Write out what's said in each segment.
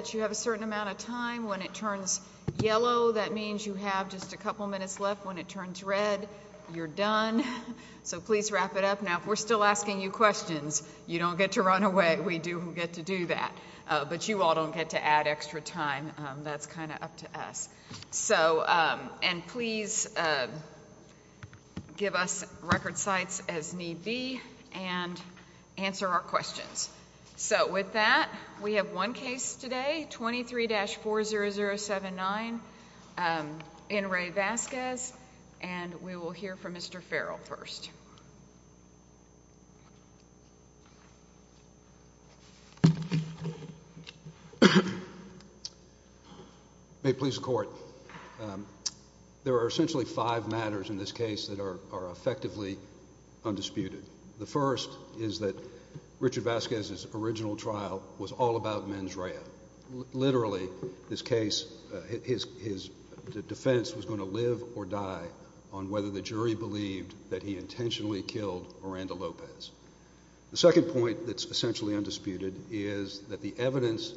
that you have a certain amount of time. When it turns yellow, that means you have just a couple minutes left. When it turns red, you're done. So please wrap it up. Now, if we're still asking you questions, you don't get to run away. We do get to do that. But you all don't get to add extra time. That's kind of up to us. And please give us record insights, as need be, and answer our questions. So with that, we have one case today, 23-40079, in Ray Vasquez. And we will hear from Mr. Farrell first. May it please the Court. There are essentially five matters in this case that are effectively undisputed. The first is that Richard Vasquez's original trial was all about mens rea. Literally, this case, his defense was going to live or die on whether the jury believed that he intentionally killed Miranda Lopez. The second point that's essentially undisputed is that the evidence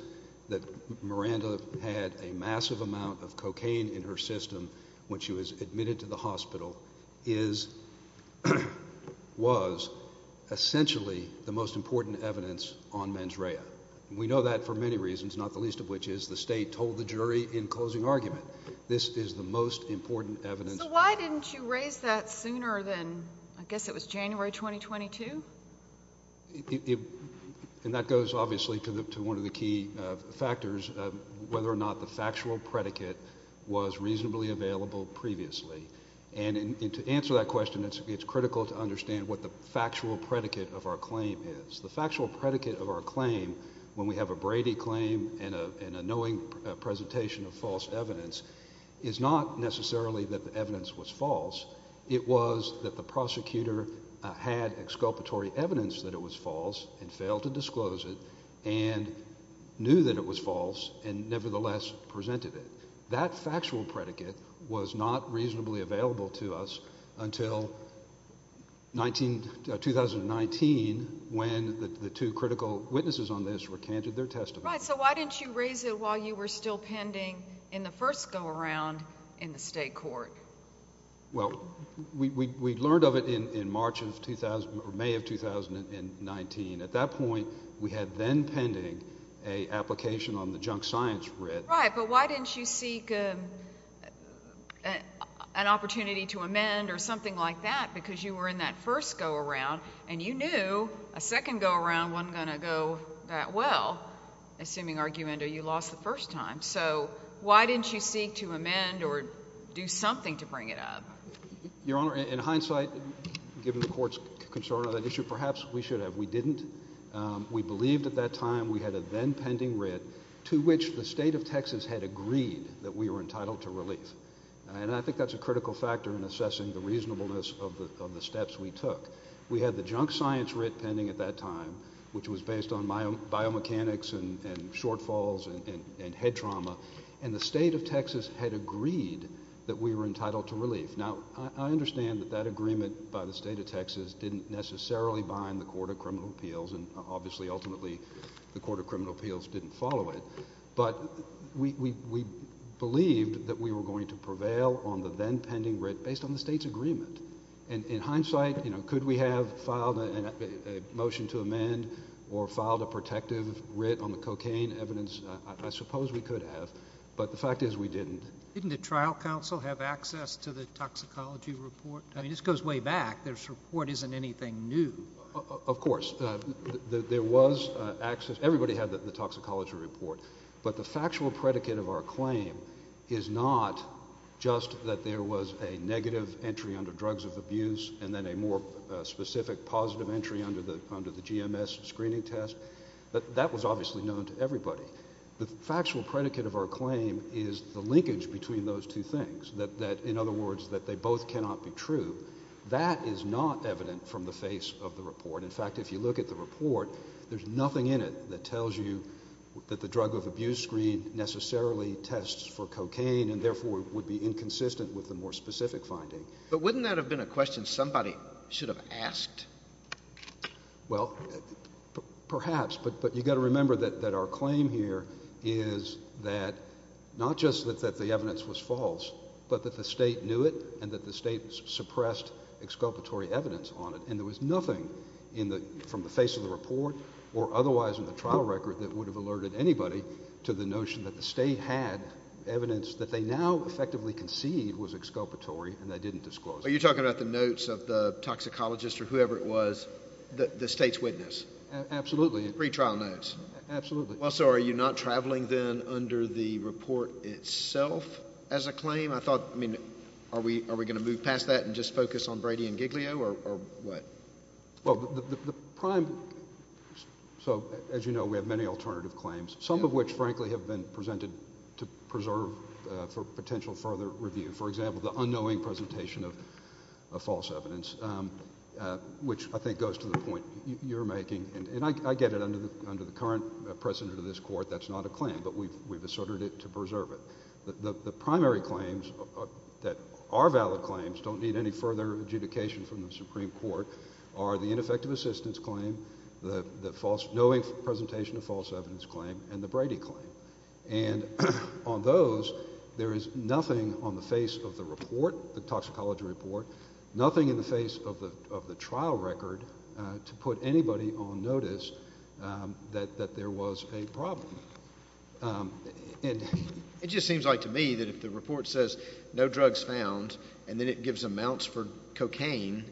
that Miranda had a massive amount of cocaine in her system when she was admitted to the hospital was essentially the most important evidence on mens rea. And we know that for many reasons, not the least of which is the state told the jury in closing argument, this is the most important evidence. So why didn't you raise that sooner than, I guess it was January 2022? And that goes, obviously, to one of the key factors of whether or not the factual predicate was reasonably available previously. And to answer that question, it's critical to understand what the factual predicate of our claim is. The factual predicate of our claim, when we have a Brady claim and a knowing presentation of false evidence, is not necessarily that the evidence was false. It was that the prosecutor had exculpatory evidence that it was false and failed to disclose it and knew that it was false and nevertheless presented it. That factual predicate was not reasonably available to us until 19 2019, when the two critical witnesses on this recanted their testimony. So why didn't you raise it while you were still pending in the first go around in the state court? Well, we learned of it in March of 2000 or May of 2019. At that point, we had then pending a application on the junk science writ. But why didn't you seek an opportunity to amend or amend that first go around? And you knew a second go around wasn't gonna go that well, assuming argument or you lost the first time. So why didn't you seek to amend or do something to bring it up? Your Honor, in hindsight, given the court's concern of that issue, perhaps we should have. We didn't. We believed at that time we had a then pending writ to which the state of Texas had agreed that we were entitled to relief. And I think that's a critical factor in assessing the reasonableness of the steps we took. We had the junk science writ pending at that time, which was based on my own biomechanics and shortfalls and head trauma. And the state of Texas had agreed that we were entitled to relief. Now, I understand that that agreement by the state of Texas didn't necessarily bind the Court of Criminal Appeals. And obviously, ultimately, the Court of Criminal Appeals didn't follow it. But we believed that we were going to prevail on the then pending writ based on the state's agreement. And in hindsight, could we have filed a motion to amend or filed a protective writ on the cocaine evidence? I suppose we could have. But the fact is, we didn't. Didn't the trial counsel have access to the toxicology report? I mean, this goes way back. This report isn't anything new. Of course, there was access. Everybody had the toxicology report. But the factual predicate of our claim is not just that there was a negative entry under drugs of abuse and then a more specific positive entry under the GMS screening test. That was obviously known to everybody. The factual predicate of our claim is the linkage between those two things. That, in other words, that they both cannot be true. That is not evident from the face of the report. In fact, if you look at the report, there's nothing in it that tells you that the drug of abuse screen necessarily tests for cocaine and, therefore, would be inconsistent with the more specific finding. But wouldn't that have been a question somebody should have asked? Well, perhaps. But you've got to remember that our claim here is that not just that the evidence was false, but that the state knew it and that the state suppressed exculpatory evidence on it. And there was nothing in the, from the face of the report or otherwise in the trial record that would have alerted anybody to the notion that the state had evidence that they now effectively concede was exculpatory and they didn't disclose it. Are you talking about the notes of the toxicologist or whoever it was, the state's witness? Absolutely. Pre-trial notes? Absolutely. Also, are you not traveling then under the report itself as a claim? I thought, I mean, are we going to move past that and just focus on Brady and Giglio or what? Well, the prime, so as you know, we have many alternative claims, some of which, frankly, have been presented to preserve for potential further review. For example, the unknowing presentation of false evidence, which I think goes to the point you're making. And I get it under the current precedent of this Court, that's not a claim, but we've asserted it to preserve it. The primary claims that are valid claims, don't need any further adjudication from the Supreme Court, are the ineffective assistance claim, the false, knowing presentation of false evidence claim, and the Brady claim. And on those, there is nothing on the face of the report, the toxicology report, nothing in the face of the trial record to put anybody on notice that there was a problem. It just seems like to me that if the report says, no drugs found, and then it gives amounts for cocaine,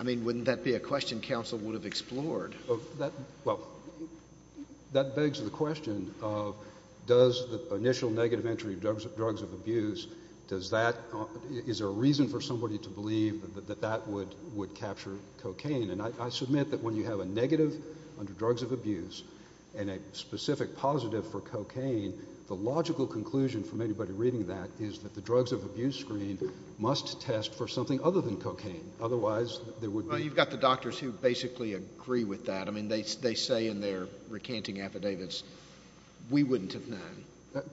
I mean, wouldn't that be a question counsel would have explored? That begs the question of, does the initial negative entry of drugs of abuse, does that, is there a reason for somebody to believe that that would capture cocaine? And I submit that when you have a negative under drugs of abuse, and a specific positive for cocaine, the logical conclusion from anybody reading that, is that the drugs of abuse screen must test for something other than cocaine. Otherwise, there would be... Well, you've got the doctors who basically agree with that. I mean, they say in their recanting affidavits, we wouldn't have known. Correct.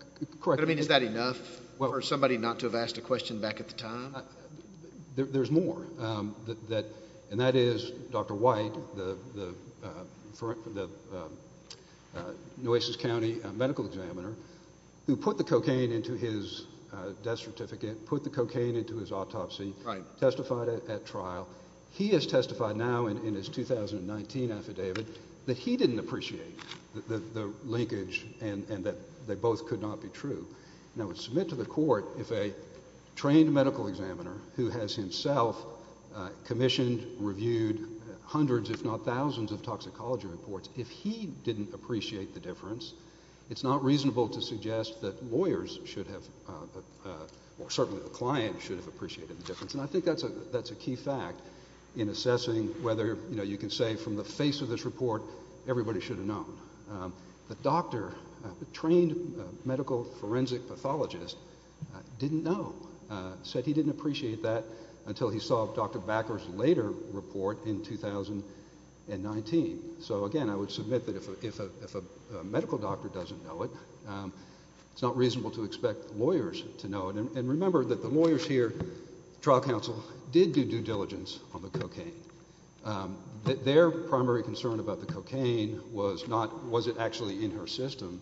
But I mean, is that enough for somebody not to have asked a question back at the time? There's more. And that is Dr. White, the Nueces County medical examiner, who put the cocaine into his death certificate, put the cocaine into his autopsy, testified at trial. He has testified now in his 2019 affidavit that he didn't appreciate the linkage, and that they both could not be true. And I would submit to the court, if a trained medical examiner who has himself commissioned, reviewed hundreds, if not thousands of toxicology reports, if he didn't appreciate the difference, it's not reasonable to suggest that lawyers should have, or certainly the client should have appreciated the difference. And I think that's a key fact in assessing whether, you know, you can say from the face of this report, everybody should have known. The doctor, the trained medical forensic pathologist, didn't know, said he didn't appreciate that until he saw Dr. Backer's later report in 2019. So again, I would submit that if a medical doctor doesn't know it, it's not reasonable to expect lawyers to know it. And remember that the lawyers here, trial counsel, did do due diligence on the cocaine. Their primary concern about the cocaine was not, was it actually in her system,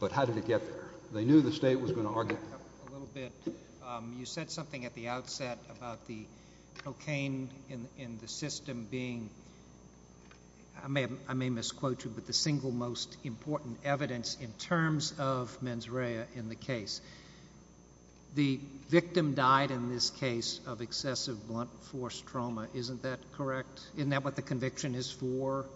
but how did it get there? They knew the state was going to argue that. A little bit. You said something at the outset about the cocaine in the system being, I may misquote you, but the single most important evidence in terms of mens rea in the case. The victim died in this case of excessive blunt force trauma. Isn't that correct? Isn't that what the conviction is for?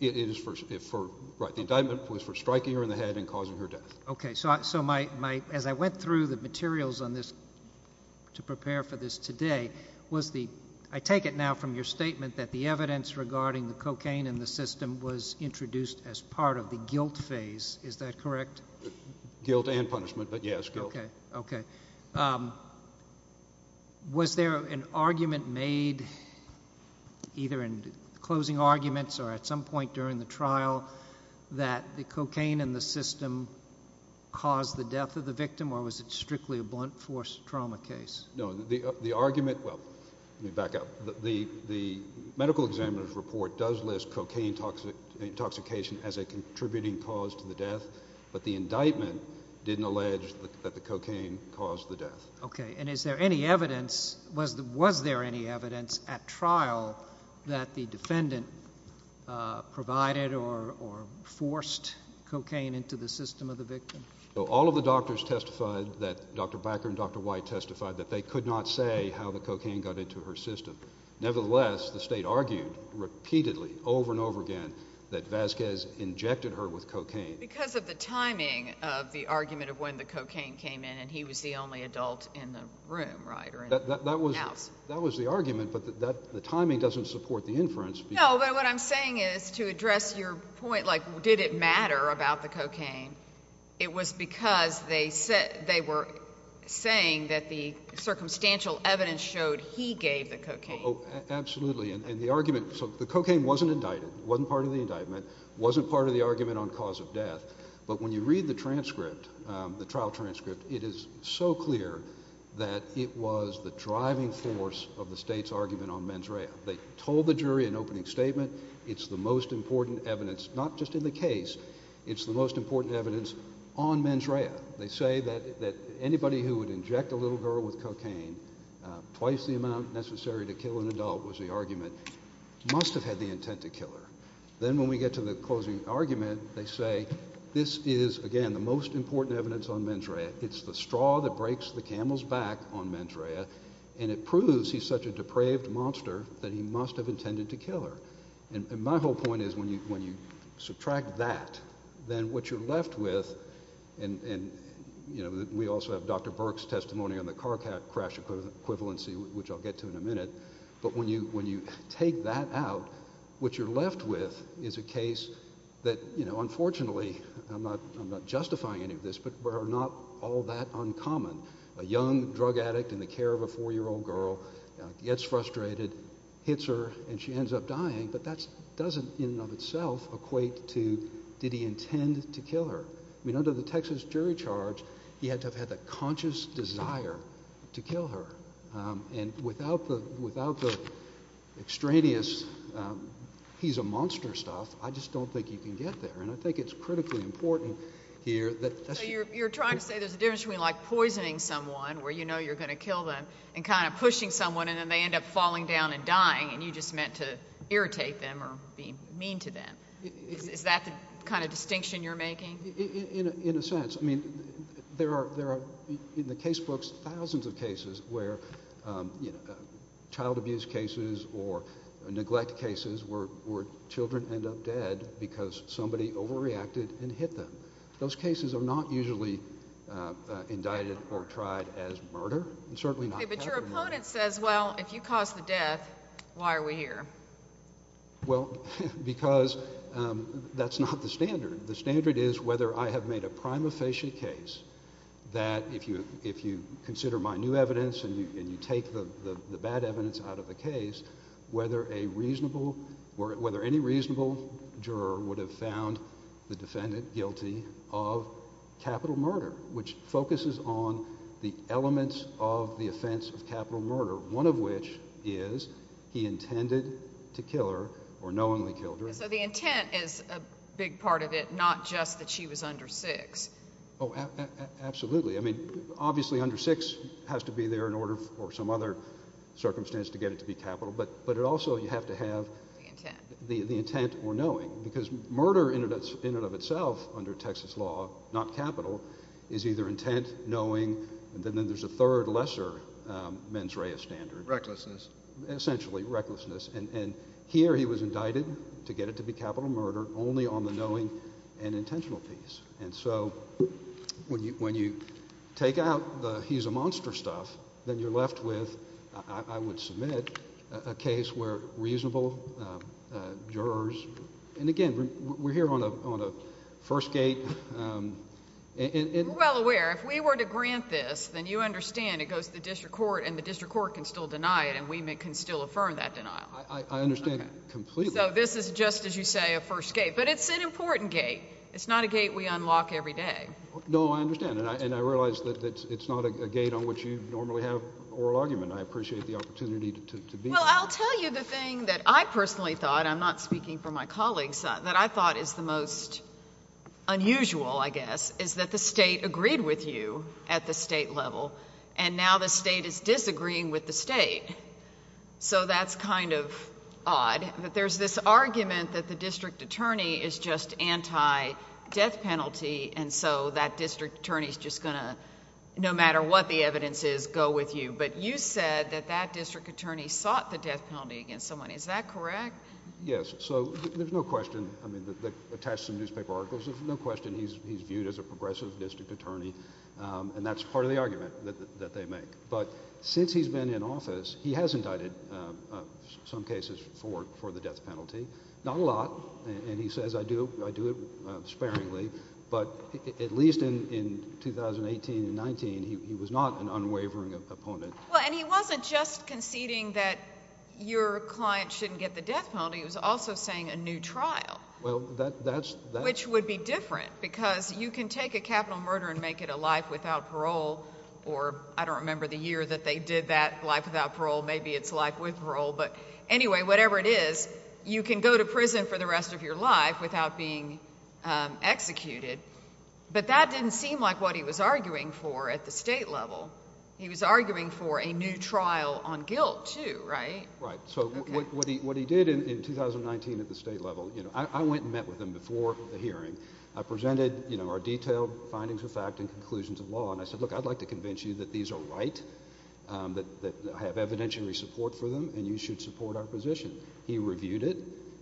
It is for, right. The indictment was for striking her in the head and causing her death. Okay. So my, as I went through the materials on this to prepare for this today, was the, I take it now from your statement that the evidence regarding the cocaine in the system was introduced as part of the guilt phase. Is that correct? Guilt and punishment, but yes, guilt. Okay. Okay. Was there an argument made either in closing arguments or at some point during the trial that the cocaine in the system caused the death of the victim or was it strictly a blunt force trauma case? No. The argument, well, let me back up. The medical examiner's report does list cocaine intoxication as a contributing cause to the death, but the indictment didn't allege that the cocaine caused the death. Okay. And is there any evidence, was there any evidence at trial that the defendant provided or forced cocaine into the system of the victim? All of the doctors testified that, Dr. Backer and Dr. White testified that they could not say how the cocaine got into her system. Nevertheless, the state argued repeatedly over and over again, that Vasquez injected her with cocaine. Because of the timing of the argument of when the cocaine came in and he was the only adult in the room, right, or in the house. That was the argument, but the timing doesn't support the inference. No, but what I'm saying is to address your point, like did it matter about the cocaine? It was because they were saying that the circumstantial evidence showed he gave the cocaine. Oh, absolutely. And the argument, so the cocaine wasn't indicted, wasn't part of the indictment, wasn't part of the argument on cause of death. But when you read the transcript, the trial transcript, it is so clear that it was the driving force of the state's argument on mens rea. They told the jury in opening statement, it's the most important evidence, not just in the case, it's the most important evidence on mens rea. They say that anybody who would kill an adult was the argument, must have had the intent to kill her. Then when we get to the closing argument, they say, this is, again, the most important evidence on mens rea. It's the straw that breaks the camel's back on mens rea, and it proves he's such a depraved monster that he must have intended to kill her. And my whole point is when you subtract that, then what you're left with, and we also have Dr. Burke's testimony on the car crash equivalency, which I'll get to in a minute, but when you take that out, what you're left with is a case that, unfortunately, I'm not justifying any of this, but are not all that uncommon. A young drug addict in the care of a four-year-old girl gets frustrated, hits her, and she ends up dying, but that doesn't in and of itself equate to did he to kill her. And without the extraneous, he's a monster stuff, I just don't think you can get there. And I think it's critically important here that that's... So you're trying to say there's a difference between like poisoning someone, where you know you're going to kill them, and kind of pushing someone, and then they end up falling down and dying, and you just meant to irritate them or be mean to them. Is that the kind of distinction you're making? In a sense. I mean, there are, in the case books, thousands of cases where, you know, child abuse cases or neglect cases where children end up dead because somebody overreacted and hit them. Those cases are not usually indicted or tried as murder, and certainly not... Okay, but your opponent says, well, if you caused the death, why are we here? Well, because that's not the standard. The standard is whether I have made a prima facie case that if you consider my new evidence and you take the bad evidence out of the case, whether a reasonable, or whether any reasonable juror would have found the defendant guilty of capital murder, which focuses on the elements of the offense of capital murder, one of which is he intended to kill her or knowingly killed her... So the intent is a big part of it, not just that she was under six. Oh, absolutely. I mean, obviously under six has to be there in order for some other circumstance to get it to be capital, but it also, you have to have... The intent. The intent or knowing, because murder in and of itself under Texas law, not capital, is either intent, knowing, and then there's a third, lesser mens rea standard... Recklessness. Essentially, recklessness, and here he was indicted to get it to be capital murder only on the knowing and intentional piece, and so when you take out the he's a monster stuff, then you're left with, I would submit, a case where reasonable jurors... And again, we're here on a first gate... We're well aware. If we were to grant this, then you understand it goes to the district court, and the district court can still deny it, and we can still affirm that denial. I understand completely. So this is just, as you say, a first gate, but it's an important gate. It's not a gate we unlock every day. No, I understand, and I realize that it's not a gate on which you normally have oral argument. I appreciate the opportunity to be here. Well, I'll tell you the thing that I personally thought, I'm not speaking for my colleagues, that I thought is the most unusual, I guess, is that the state agreed with you at the state level, and now the state is disagreeing with the state. So that's kind of odd that there's this argument that the district attorney is just anti-death penalty, and so that district attorney is just going to, no matter what the evidence is, go with you. But you said that that district attorney sought the death penalty against someone. Is that correct? Yes. So there's no question. I mean, attached to the newspaper articles, there's no question he's viewed as a progressive district attorney, and that's part of the argument that they make. But since he's been in office, he has indicted some cases for the death penalty. Not a lot, and he says, I do it sparingly, but at least in 2018 and 19, he was not an unwavering opponent. Well, and he wasn't just conceding that your client shouldn't get the death penalty. He was also saying a new trial. Well, that's... Which would be different, because you can take a capital murder and make it a life without parole, or I don't remember the year that they did that, life without parole. Maybe it's life with parole. But anyway, whatever it is, you can go to prison for the rest of your life without being executed. But that didn't seem like what he was arguing for at the state level. He was arguing for a new trial on guilt, too, right? Right. So what he did in 2019 at the state level, you know, I went and met with him before the hearing. I presented our detailed findings of fact and conclusions of law, and I said, look, I'd like to convince you that these are right, that I have evidentiary support for them, and you should support our position. He reviewed it.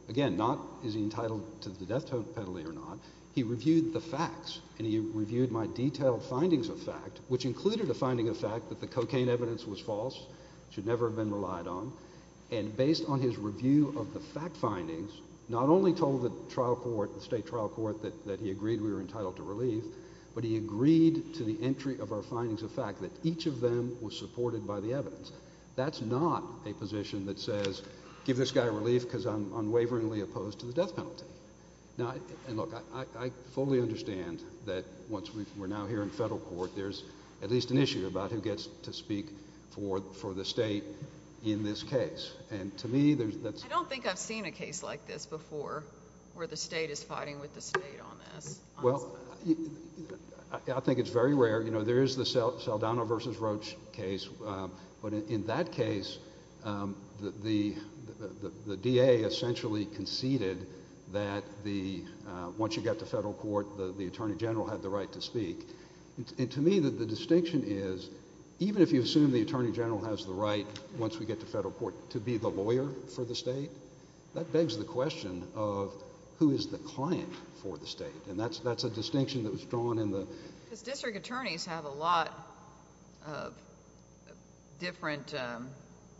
Again, not is he entitled to the death penalty or not. He reviewed the facts, and he reviewed my detailed findings of fact, which included a finding of fact that the cocaine evidence was false, should never have been relied on. And based on his review of the fact findings, not only told the trial court, the state trial court, that he agreed we were entitled to relief, but he agreed to the entry of our findings of fact that each of them was supported by the evidence. That's not a position that says, give this guy relief because I'm unwaveringly opposed to the death penalty. Now, and look, I fully understand that once we're now here in federal court, there's at least an issue about who gets to speak for the state in this case, where the state is fighting with the state on this. Well, I think it's very rare. You know, there is the Saldana versus Roach case, but in that case, the DA essentially conceded that once you get to federal court, the Attorney General had the right to speak. And to me, the distinction is, even if you assume the Attorney General has the right once we get to federal court to be the lawyer for the state, that begs the question of, who is the client for the state? And that's a distinction that was drawn in the... Because district attorneys have a lot of different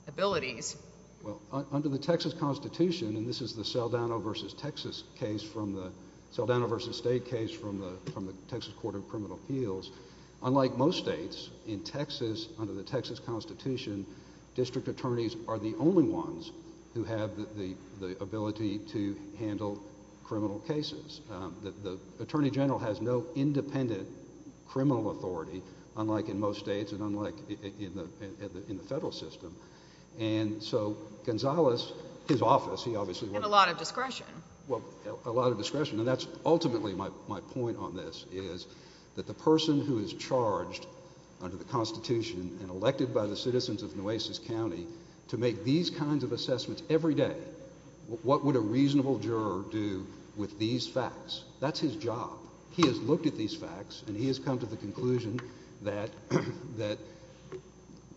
abilities. Well, under the Texas Constitution, and this is the Saldana versus Texas case from the... Saldana versus state case from the Texas Court of Criminal Appeals, unlike most states, in Texas, under the Texas Constitution, district attorneys are the only ones who have the ability to handle criminal cases. The Attorney General has no independent criminal authority, unlike in most states and unlike in the federal system. And so, Gonzalez, his office, he obviously... And a lot of discretion. Well, a lot of discretion. And that's ultimately my point on this, is that the person who is charged under the Constitution and elected by the citizens of Nueces County to make these kinds of assessments every day, what would a reasonable juror do with these facts? That's his job. He has looked at these facts and he has come to the conclusion that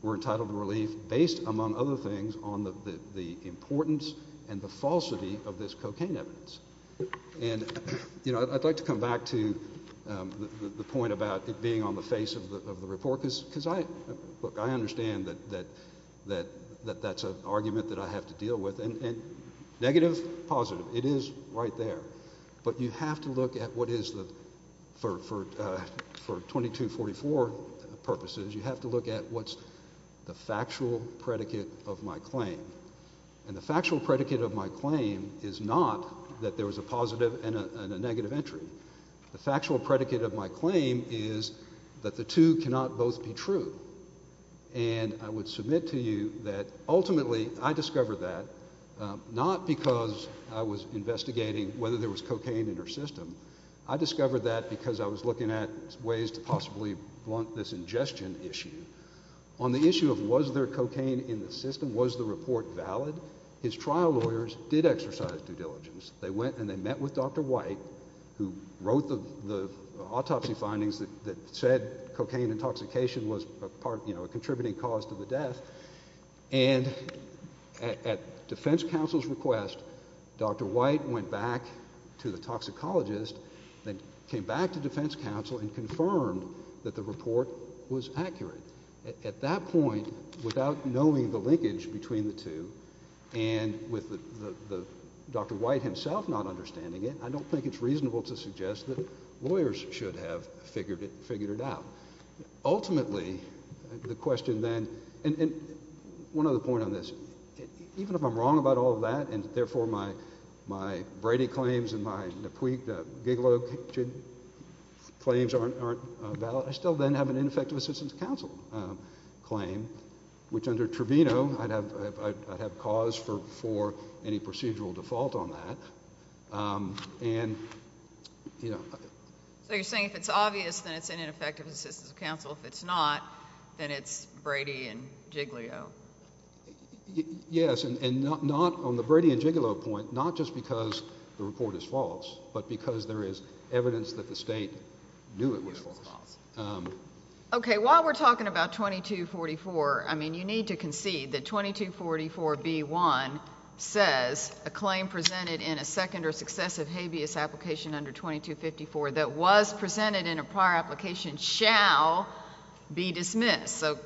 we're entitled to relief based, among other things, on the importance and the falsity of this cocaine evidence. And, you know, I'd like to come back to the point about it being on the face of the report, because I... look, I understand that that's an argument that I have to deal with. And negative, positive, it is right there. But you have to look at what is the... for 2244 purposes, you have to look at what's the factual predicate of my claim. And the factual predicate of my claim is not that there was a positive and a negative entry. The factual predicate of my claim is that the two cannot both be true. And I would submit to you that ultimately, I discovered that not because I was investigating whether there was cocaine in her system. I discovered that because I was looking at ways to possibly blunt this ingestion issue. On the issue of was there cocaine in the system, was the report valid, his trial lawyers did exercise due diligence. They went and they met with Dr. White, who wrote the autopsy findings that said cocaine intoxication was a contributing cause to the death. And at defense counsel's request, Dr. White went back to the toxicologist that came back to defense counsel and confirmed that the report was accurate. At that point, without knowing the linkage between the two, and with Dr. White himself not understanding it, I don't think it's reasonable to suggest that lawyers should have figured it out. Ultimately, the question then, and one other point on this, even if I'm wrong about all of that, and therefore my Brady claims and my Gigolo claims aren't valid, I still then have an ineffective assistance counsel claim, which under Trevino, I'd have cause for any procedural default on that. So you're saying if it's obvious, then it's an ineffective assistance counsel. If it's not, then it's Brady and Gigolo. Yes, and not on the Brady and Gigolo point, not just because the report is false, but because there is evidence that the state knew it was false. Okay, while we're talking about 2244, I mean, you need to concede that the claim presented in a second or successive habeas application under 2254 that was presented in a prior application shall be dismissed. So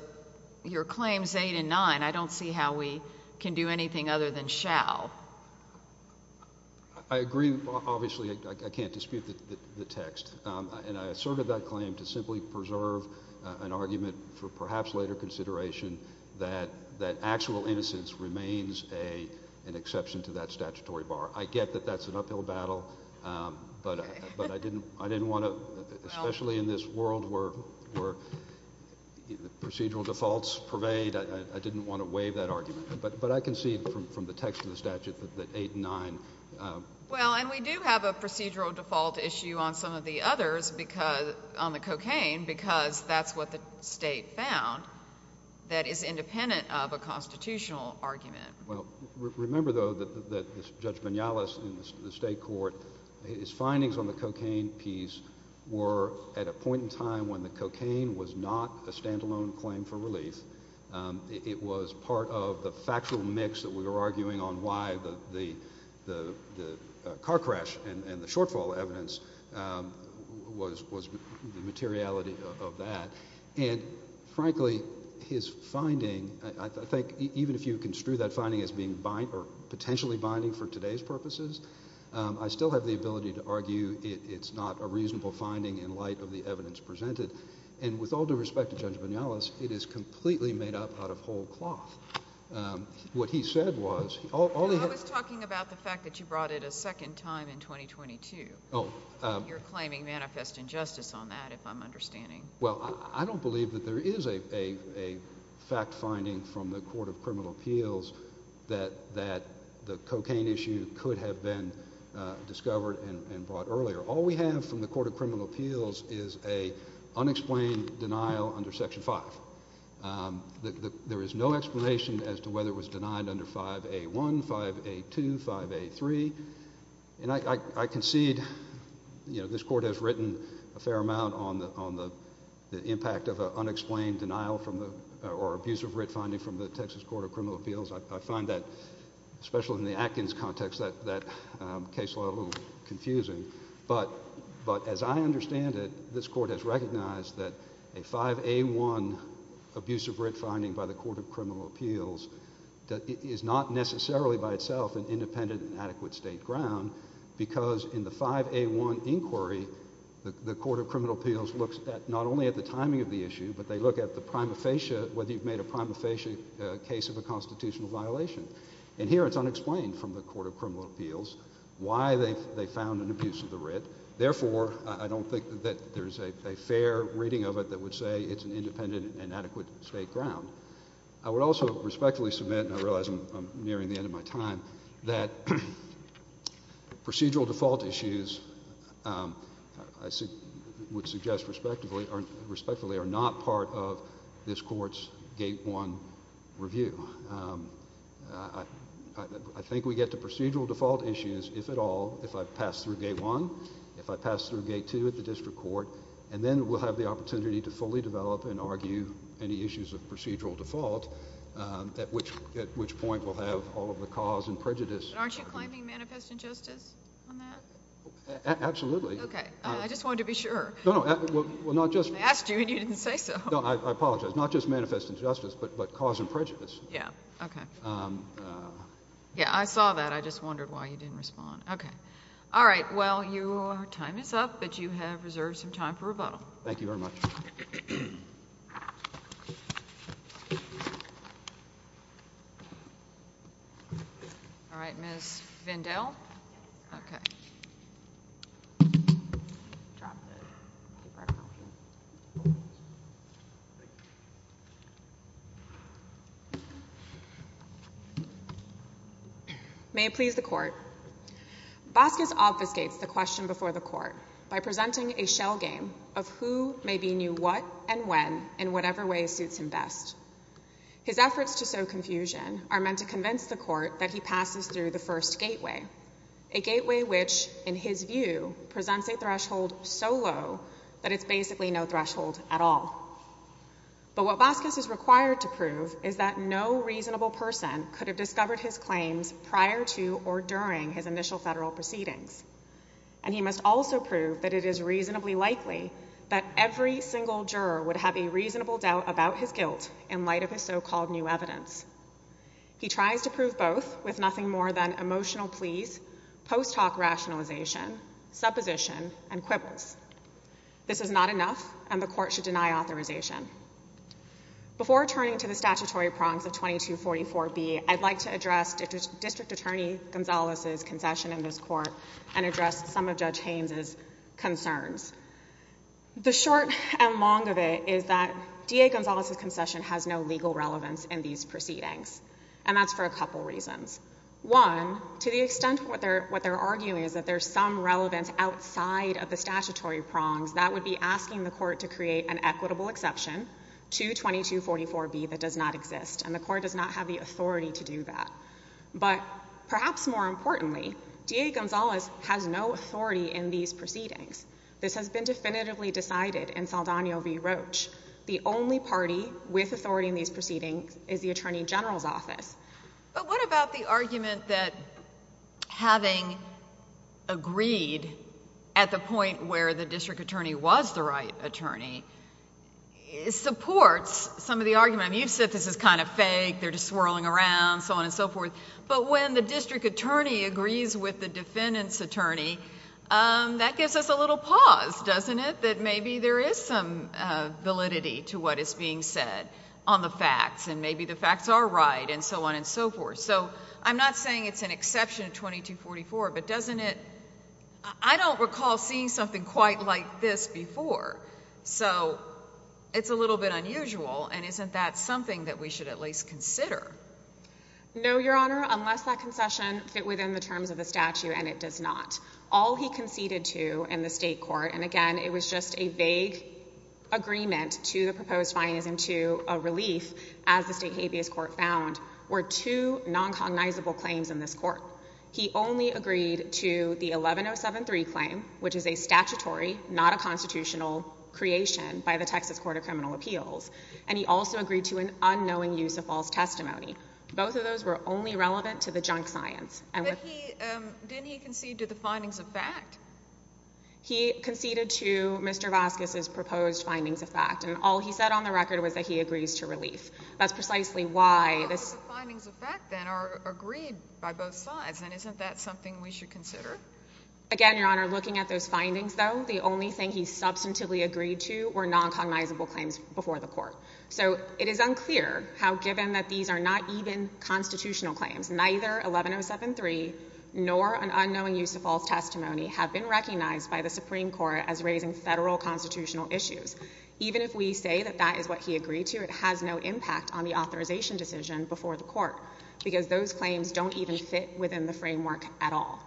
your claims eight and nine, I don't see how we can do anything other than shall. I agree, obviously, I can't dispute the text, and I asserted that claim to simply preserve an argument for perhaps later consideration that actual innocence remains an exception to that statutory bar. I get that that's an uphill battle, but I didn't want to, especially in this world where procedural defaults pervade, I didn't want to waive that argument. But I concede from the text of the statute that eight and nine... Well, and we do have a procedural default issue on some of the others on the statute that is independent of a constitutional argument. Well, remember, though, that Judge Minales in the state court, his findings on the cocaine piece were at a point in time when the cocaine was not a standalone claim for relief. It was part of the factual mix that we were arguing on why the car crash and the shortfall evidence was the materiality of that. And frankly, his finding, I think even if you construe that finding as being bind or potentially binding for today's purposes, I still have the ability to argue it's not a reasonable finding in light of the evidence presented. And with all due respect to Judge Minales, it is completely made up out of whole cloth. What he said was... I was talking about the fact that you brought it a second time in 2022. Oh. You're claiming manifest injustice on that, if I'm understanding. Well, I don't believe that there is a fact finding from the Court of Criminal Appeals that the cocaine issue could have been discovered and brought earlier. All we have from the Court of Criminal Appeals is a unexplained denial under Section 5. There is no explanation as to whether it was denied under 5A1, 5A2, 5A3. And I concede... You know, this Court has written a fair amount on the impact of an unexplained denial or abusive writ finding from the Texas Court of Criminal Appeals. I find that, especially in the Atkins context, that case a little confusing. But as I understand it, this Court has recognized that a 5A1 abusive writ finding by the Court of Criminal Appeals is not necessarily by itself an independent and adequate state ground, because in the 5A1 inquiry, the Court of Criminal Appeals looks not only at the timing of the issue, but they look at the prima facie, whether you've made a prima facie case of a constitutional violation. And here it's unexplained from the Court of Criminal Appeals why they found an abusive writ. Therefore, I don't think that there's a fair reading of it that would say it's an independent and adequate state ground. I would also respectfully submit, and I realize I'm nearing the end of my time, that procedural default issues, I would suggest respectfully, are not part of this Court's Gate 1 review. I think we get to procedural default issues, if at all, if I pass through Gate 1, if I pass through Gate 2 at the district court, and then we'll have the opportunity to fully develop and argue any issues of procedural default, at which point we'll have all of the cause and prejudice. But aren't you claiming manifest injustice on that? Absolutely. Okay. I just wanted to be sure. No, no. Well, not just... I asked you, and you didn't say so. No, I apologize. Not just manifest injustice, but cause and prejudice. Yeah. Okay. Yeah, I saw that. I just wondered why you didn't respond. Okay. All right. Well, your time is up, but you have reserved some time for rebuttal. Thank you very much. Thank you. All right. Ms. Vindell? Yes, ma'am. Okay. May it please the Court. Boskus obfuscates the question before the Court by presenting a shell game of who may be new what and when in whatever way suits him best. His efforts to sow confusion are meant to convince the Court that he passes through the first gateway, a gateway which, in his view, presents a threshold so low that it's basically no threshold at all. But what Boskus is required to prove is that no reasonable person could have discovered his claims prior to or during his initial federal proceedings. And he must also prove that it is reasonably likely that every single juror would have a reasonable doubt about his guilt in light of his so-called new evidence. He tries to prove both with nothing more than emotional pleas, post hoc rationalization, supposition, and quibbles. This is not enough, and the Court should deny authorization. Before turning to the statutory prongs of 2244B, I'd like to address District Attorney D.A. Gonzalez's concession in this Court and address some of Judge Haynes' concerns. The short and long of it is that D.A. Gonzalez's concession has no legal relevance in these proceedings, and that's for a couple reasons. One, to the extent what they're arguing is that there's some relevance outside of the statutory prongs, that would be asking the Court to create an equitable exception to 2244B that does not exist, and the Court does not have the authority to do that. But perhaps more importantly, D.A. Gonzalez has no authority in these proceedings. This has been definitively decided in Saldana v. Roach. The only party with authority in these proceedings is the Attorney General's office. But what about the argument that having agreed at the point where the District Attorney was the right attorney supports some of the argument, I mean, you've said this is kind of fake, they're just swirling around, so on and so forth, but when the District Attorney agrees with the defendant's attorney, that gives us a little pause, doesn't it, that maybe there is some validity to what is being said on the facts, and maybe the facts are right and so on and so forth. So I'm not saying it's an exception to 2244, but doesn't it... I don't recall seeing something quite like this before, so it's a little bit unusual, and isn't that something that we should at least consider? No, Your Honor, unless that concession fit within the terms of the statute, and it does not. All he conceded to in the state court, and again, it was just a vague agreement to the proposed fine as into a relief, as the state habeas court found, were two non-cognizable claims in this court. He only agreed to the 11073 claim, which is a statutory, not a constitutional, creation by the Texas Court of Criminal Appeals, and he also agreed to an unknowing use of false testimony. Both of those were only relevant to the junk science. But he... didn't he concede to the findings of fact? He conceded to Mr. Vasquez's proposed findings of fact, and all he said on the record was that he agrees to relief. That's precisely why this... But the findings of fact, then, are agreed by both sides, and isn't that something we should consider? Again, Your Honor, looking at those findings, though, the only thing he substantively agreed to were non-cognizable claims before the court. So it is unclear how, given that these are not even constitutional claims, neither 11073 nor an unknowing use of false testimony have been recognized by the Supreme Court as raising Federal constitutional issues. Even if we say that that is what he agreed to, it has no impact on the authorization decision before the court, because those claims don't even fit within the framework at all.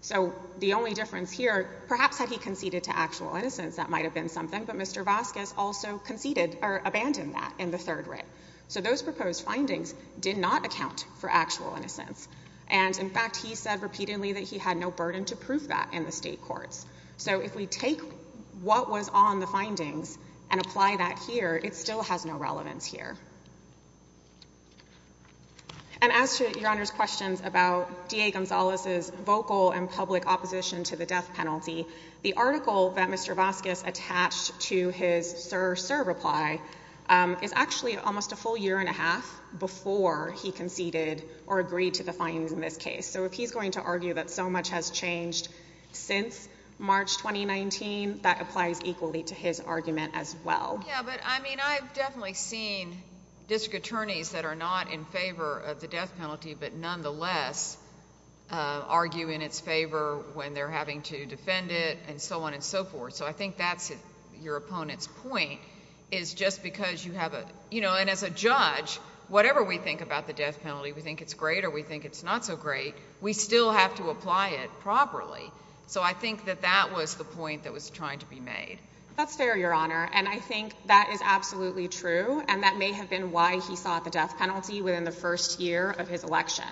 So the only difference here, perhaps had he conceded to actual innocence, that might have been something, but Mr. Vasquez also conceded or abandoned that in the third writ. So those proposed findings did not account for actual innocence. And, in fact, he said repeatedly that he had no burden to prove that in the state courts. So if we take what was on the findings and apply that here, it still has no relevance here. And as to Your Honor's questions about D.A. Gonzalez's vocal and public opposition to the death penalty, the article that Mr. Vasquez attached to his Sir Sir reply is actually almost a full year and a half before he conceded or agreed to the findings in this case. So if he's going to argue that so much has changed since March 2019, that applies equally to his argument as well. Yeah, but I mean, I've definitely seen district attorneys that are not in favor of the death penalty, but nonetheless argue in its favor when they're having to defend it and so on and so forth. So I think that's your opponent's point is just because you have a you know, and as a judge, whatever we think about the death penalty, we think it's great or we think it's not so great. We still have to apply it properly. So I think that that was the point that was trying to be made. That's fair, Your Honor. And I think that is absolutely true. And that may have been why he sought the death penalty within the first year of his election.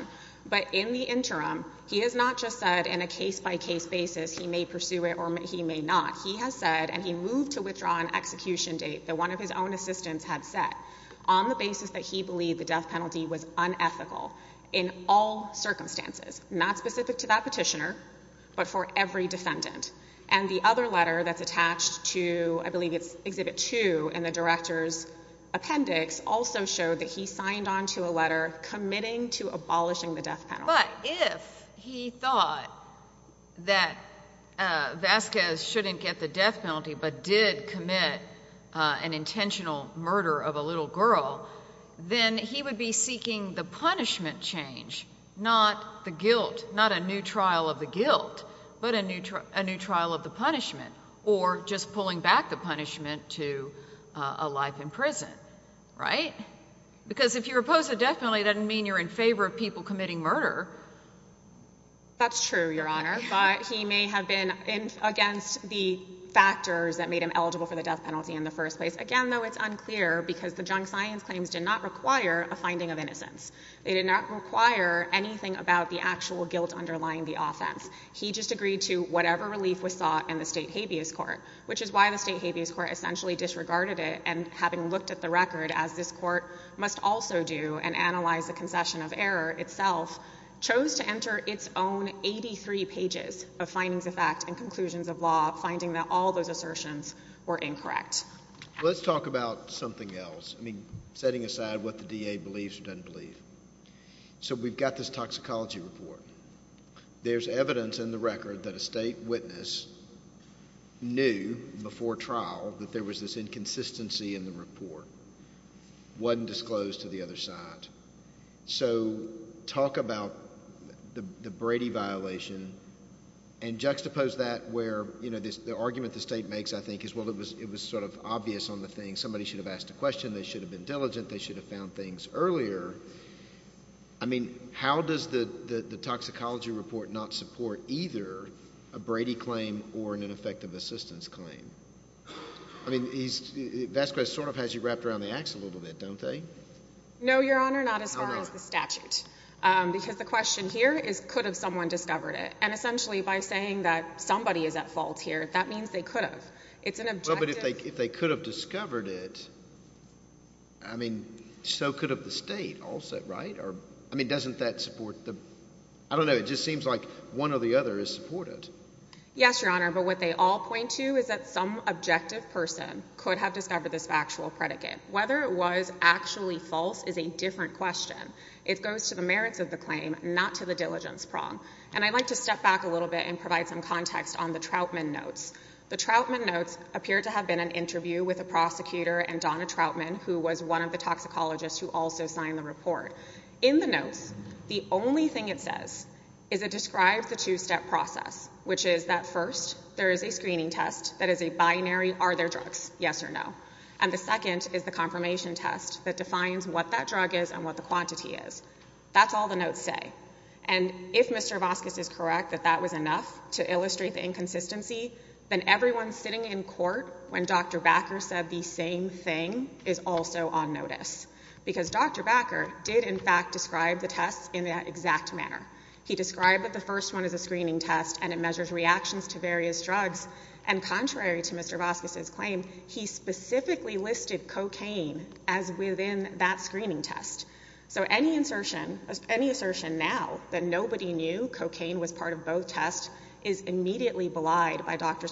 But in the interim, he has not just said in a case by case basis he may pursue it or he may not. He has said and he moved to withdraw an execution date that one of his own assistants had set on the basis that he believed the death penalty was unethical in all circumstances, not specific to that petitioner, but for every defendant. And the other letter that's attached to I believe it's Exhibit 2 in the director's appendix also showed that he signed on to a letter committing to abolishing the death penalty. But if he thought that Vasquez shouldn't get the death penalty but did commit an intentional murder of a little girl, then he would be seeking the punishment change, not the guilt, not a new trial of the guilt, but a new trial of the punishment or just pulling back the punishment to a life in prison, right? Because if you're opposed to the death penalty, it doesn't mean you're in favor of people That's true, Your Honor. But he may have been against the factors that made him eligible for the death penalty in the first place. Again, though, it's unclear because the junk science claims did not require a finding of innocence. They did not require anything about the actual guilt underlying the offense. He just agreed to whatever relief was sought in the State Habeas Court, which is why the State Habeas Court essentially disregarded it and having looked at the record, as this chose to enter its own 83 pages of findings of fact and conclusions of law, finding that all those assertions were incorrect. Let's talk about something else. I mean, setting aside what the DA believes or doesn't believe. So we've got this toxicology report. There's evidence in the record that a state witness knew before trial that there was this inconsistency in the report. It wasn't disclosed to the other side. So talk about the Brady violation and juxtapose that where, you know, the argument the state makes, I think, is, well, it was sort of obvious on the thing. Somebody should have asked a question. They should have been diligent. They should have found things earlier. I mean, how does the toxicology report not support either a Brady claim or an ineffective assistance claim? I mean, Vasquez sort of has you wrapped around the axe a little bit, don't they? No, Your Honor, not as far as the statute. Because the question here is could have someone discovered it? And essentially by saying that somebody is at fault here, that means they could have. It's an objective… Well, but if they could have discovered it, I mean, so could have the state also, right? I mean, doesn't that support the… I don't know. It just seems like one or the other is supported. Yes, Your Honor. But what they all point to is that some objective person could have discovered this factual predicate. Whether it was actually false is a different question. It goes to the merits of the claim, not to the diligence prong. And I'd like to step back a little bit and provide some context on the Trautman notes. The Trautman notes appear to have been an interview with a prosecutor and Donna Trautman, who was one of the toxicologists who also signed the report. In the notes, the only thing it says is it describes the two-step process, which is that first, there is a screening test that is a binary, are there drugs, yes or no? And the second is the confirmation test that defines what that drug is and what the quantity is. That's all the notes say. And if Mr. Vasquez is correct that that was enough to illustrate the inconsistency, then everyone sitting in court when Dr. Backer said the same thing is also on notice. Because Dr. Backer did, in fact, describe the tests in that exact manner. He described that the first one is a screening test and it measures reactions to various cocaine as within that screening test. So any assertion now that nobody knew cocaine was part of both tests is immediately belied by Dr.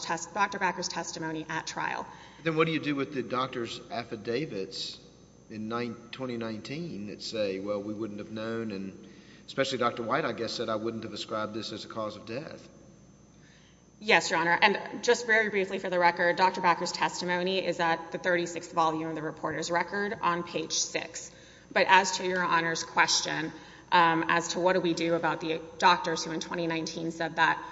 Backer's testimony at trial. Then what do you do with the doctor's affidavits in 2019 that say, well, we wouldn't have known, and especially Dr. White, I guess, said I wouldn't have ascribed this as a cause of death. Yes, Your Honor. And just very briefly for the record, Dr. Backer's testimony is at the 36th volume of the reporter's record on page 6. But as to Your Honor's question as to what do we do about the doctors who in 2019 said that,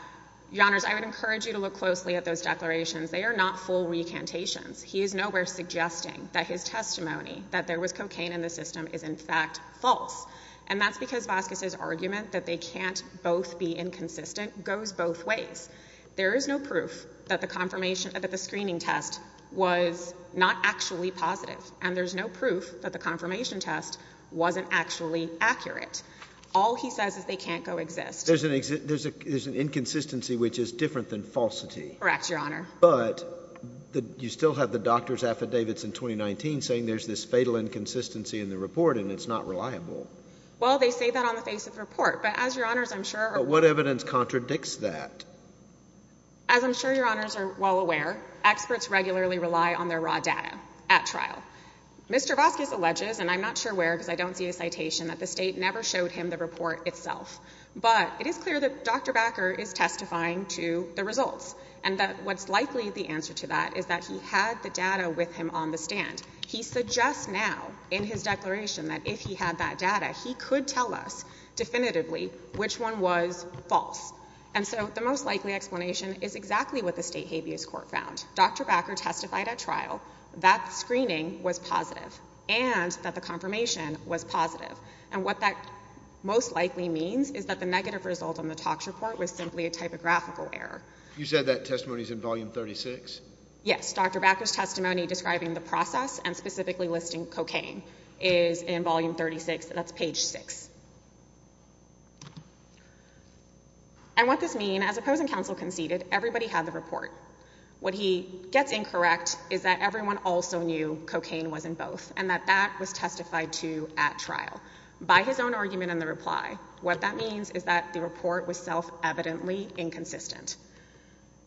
Your Honors, I would encourage you to look closely at those declarations. They are not full recantations. He is nowhere suggesting that his testimony that there was cocaine in the system is, in fact, false. And that's because Vasquez's argument that they can't both be inconsistent goes both ways. There is no proof that the screening test was not actually positive. And there's no proof that the confirmation test wasn't actually accurate. All he says is they can't coexist. There's an inconsistency which is different than falsity. Correct, Your Honor. But you still have the doctor's affidavits in 2019 saying there's this fatal inconsistency in the report and it's not reliable. Well, they say that on the face of the report. But as Your Honors, I'm sure— What evidence contradicts that? As I'm sure Your Honors are well aware, experts regularly rely on their raw data at trial. Mr. Vasquez alleges, and I'm not sure where because I don't see a citation, that the state never showed him the report itself. But it is clear that Dr. Bakker is testifying to the results. And that what's likely the answer to that is that he had the data with him on the stand. He suggests now in his declaration that if he had that data, he could tell us definitively which one was false. And so the most likely explanation is exactly what the state habeas court found. Dr. Bakker testified at trial that the screening was positive and that the confirmation was positive. And what that most likely means is that the negative result on the TOCS report was simply a typographical error. You said that testimony is in Volume 36? Yes. Dr. Bakker's testimony describing the process and specifically listing cocaine is in Volume 36. That's page 6. And what this means, as opposing counsel conceded, everybody had the report. What he gets incorrect is that everyone also knew cocaine was in both and that that was testified to at trial. By his own argument in the reply, what that means is that the report was self-evidently inconsistent.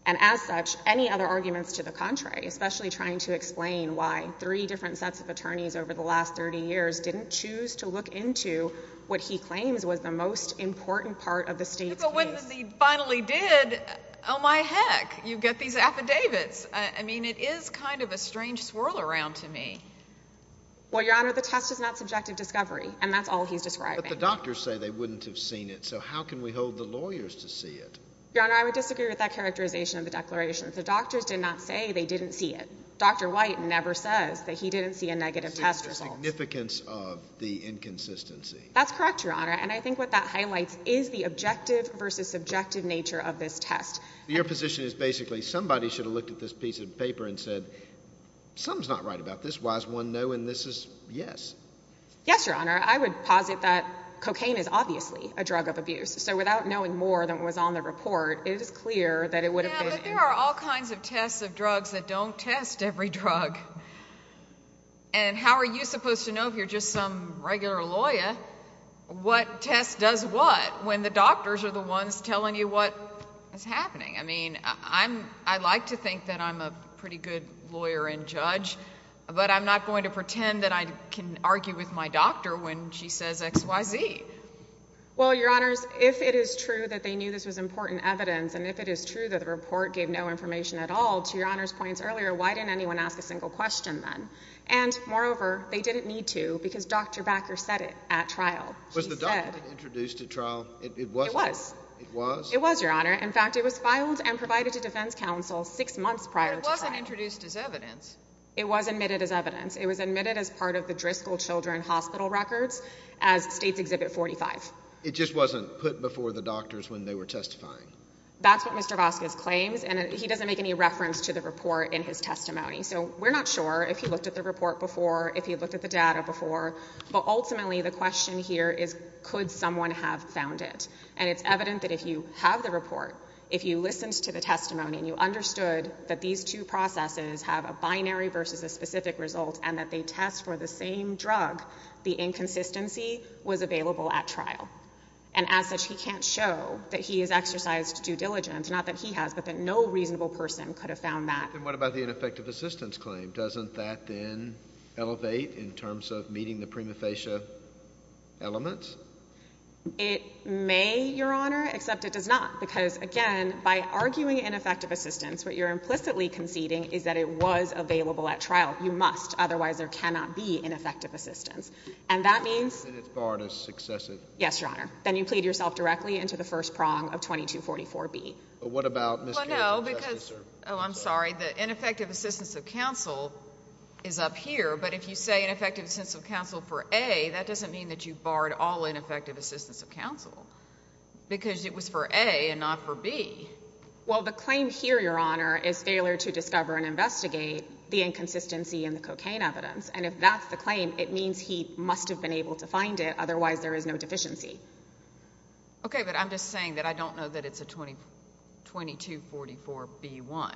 And as such, any other arguments to the contrary, especially trying to explain why three different sets of attorneys over the last 30 years didn't choose to look into what he claims was the most important part of the state's case. But when he finally did, oh, my heck, you get these affidavits. I mean, it is kind of a strange swirl around to me. Well, Your Honor, the test is not subjective discovery, and that's all he's describing. But the doctors say they wouldn't have seen it, so how can we hold the lawyers to see it? Your Honor, I would disagree with that characterization of the declaration. The doctors did not say they didn't see it. Dr. White never says that he didn't see a negative test result. The significance of the inconsistency. That's correct, Your Honor. And I think what that highlights is the objective versus subjective nature of this test. Your position is basically somebody should have looked at this piece of paper and said, something's not right about this. Why is one no and this is yes? Yes, Your Honor. I would posit that cocaine is obviously a drug of abuse. So without knowing more than was on the report, it is clear that it would have been. Yeah, but there are all kinds of tests of drugs that don't test every drug. And how are you supposed to know if you're just some regular lawyer what test does what when the doctors are the ones telling you what is happening? I mean, I like to think that I'm a pretty good lawyer and judge, but I'm not going to pretend that I can argue with my doctor when she says X, Y, Z. Well, Your Honors, if it is true that they knew this was important evidence and if it is true that the report gave no information at all, to Your Honor's points earlier, why didn't anyone ask a single question then? And moreover, they didn't need to because Dr. Backer said it at trial. Was the doctor introduced at trial? It was. It was? It was, Your Honor. In fact, it was filed and provided to defense counsel six months prior to trial. But it wasn't introduced as evidence. It was admitted as evidence. It just wasn't put before the doctors when they were testifying? That's what Mr. Vasquez claims, and he doesn't make any reference to the report in his testimony. So we're not sure if he looked at the report before, if he looked at the data before, but ultimately the question here is could someone have found it? And it's evident that if you have the report, if you listened to the testimony and you understood that these two processes have a binary versus a specific result and that they test for the same drug, the inconsistency was available at trial. And as such, he can't show that he has exercised due diligence, not that he has, but that no reasonable person could have found that. And what about the ineffective assistance claim? Doesn't that then elevate in terms of meeting the prima facie elements? It may, Your Honor, except it does not because, again, by arguing ineffective assistance, what you're implicitly conceding is that it was available at trial. You must. Otherwise, there cannot be ineffective assistance. And that means? And it's barred as successive. Yes, Your Honor. Then you plead yourself directly into the first prong of 2244B. But what about Ms. Gale's assessment? Oh, I'm sorry. The ineffective assistance of counsel is up here. But if you say ineffective assistance of counsel for A, that doesn't mean that you barred all ineffective assistance of counsel because it was for A and not for B. Well, the claim here, Your Honor, is failure to discover and investigate the inconsistency in the cocaine evidence. And if that's the claim, it means he must have been able to find it. Otherwise, there is no deficiency. Okay, but I'm just saying that I don't know that it's a 2244B1.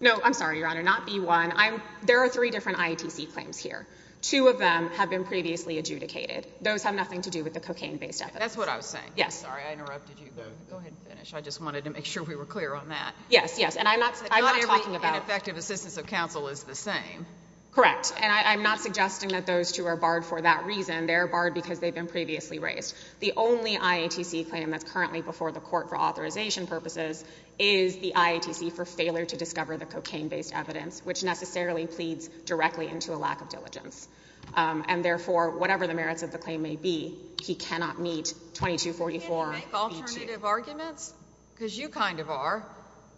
No, I'm sorry, Your Honor, not B1. There are three different IATC claims here. Two of them have been previously adjudicated. Those have nothing to do with the cocaine-based evidence. That's what I was saying. Yes. Sorry, I interrupted you. Go ahead and finish. I just wanted to make sure we were clear on that. Yes, yes. And I'm not talking about – Not every ineffective assistance of counsel is the same. Correct. And I'm not suggesting that those two are barred for that reason. They're barred because they've been previously raised. The only IATC claim that's currently before the court for authorization purposes is the IATC for failure to discover the cocaine-based evidence, which necessarily pleads directly into a lack of diligence. And therefore, whatever the merits of the claim may be, he cannot meet 2244B2. You make alternative arguments? Because you kind of are.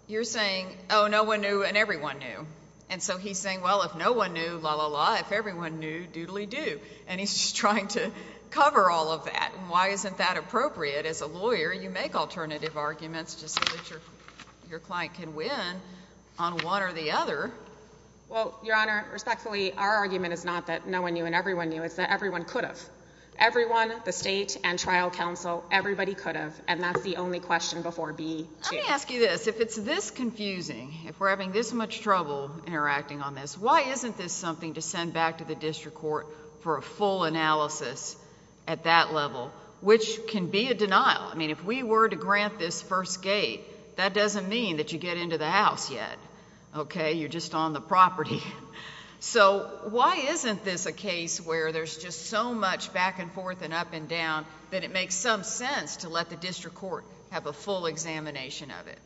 You're saying, oh, no one knew and everyone knew. And so he's saying, well, if no one knew, la, la, la. If everyone knew, doodly-doo. And he's just trying to cover all of that. And why isn't that appropriate? As a lawyer, you make alternative arguments just so that your client can win on one or the other. Well, Your Honor, respectfully, our argument is not that no one knew and everyone knew. It's that everyone could have. Everyone, the state and trial counsel, everybody could have. And that's the only question before B2. Let me ask you this. If it's this confusing, if we're having this much trouble interacting on this, why isn't this something to send back to the district court for a full analysis at that level, which can be a denial? I mean, if we were to grant this first gate, that doesn't mean that you get into the house yet. Okay? You're just on the property. So why isn't this a case where there's just so much back and forth and up and down that it makes some sense to let the district court have a full examination of it?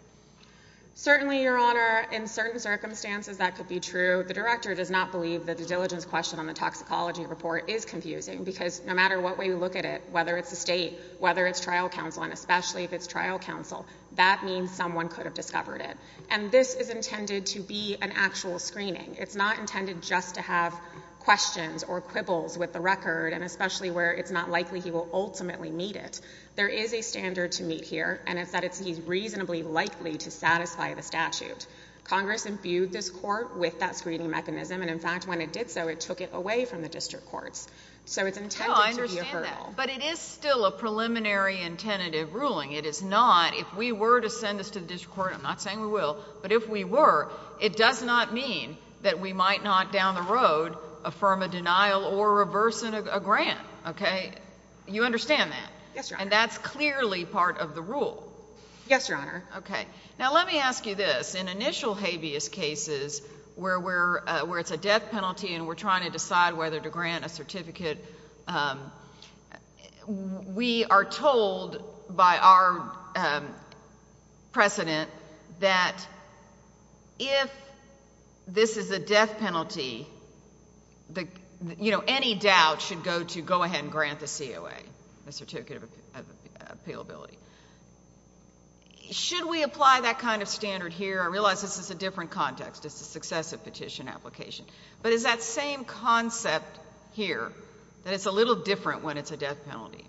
Certainly, Your Honor, in certain circumstances that could be true. The director does not believe that the diligence question on the toxicology report is confusing because no matter what way we look at it, whether it's the state, whether it's trial counsel, and especially if it's trial counsel, that means someone could have discovered it. And this is intended to be an actual screening. It's not intended just to have questions or quibbles with the record and especially where it's not likely he will ultimately meet it. There is a standard to meet here, and it's that he's reasonably likely to satisfy the statute. Congress imbued this court with that screening mechanism, and, in fact, when it did so, it took it away from the district courts. So it's intended to be a hurdle. No, I understand that. But it is still a preliminary and tentative ruling. It is not. If we were to send this to the district court, I'm not saying we will, but if we were, it does not mean that we might not down the road affirm a denial or reverse a grant. Okay? You understand that? Yes, Your Honor. And that's clearly part of the rule. Yes, Your Honor. Okay. Now let me ask you this. In initial habeas cases where it's a death penalty and we're trying to decide whether to grant a certificate, we are told by our precedent that if this is a death penalty, you know, any doubt should go to go ahead and grant the COA, the certificate of appealability. Should we apply that kind of standard here? I realize this is a different context. This is successive petition application. But is that same concept here that it's a little different when it's a death penalty?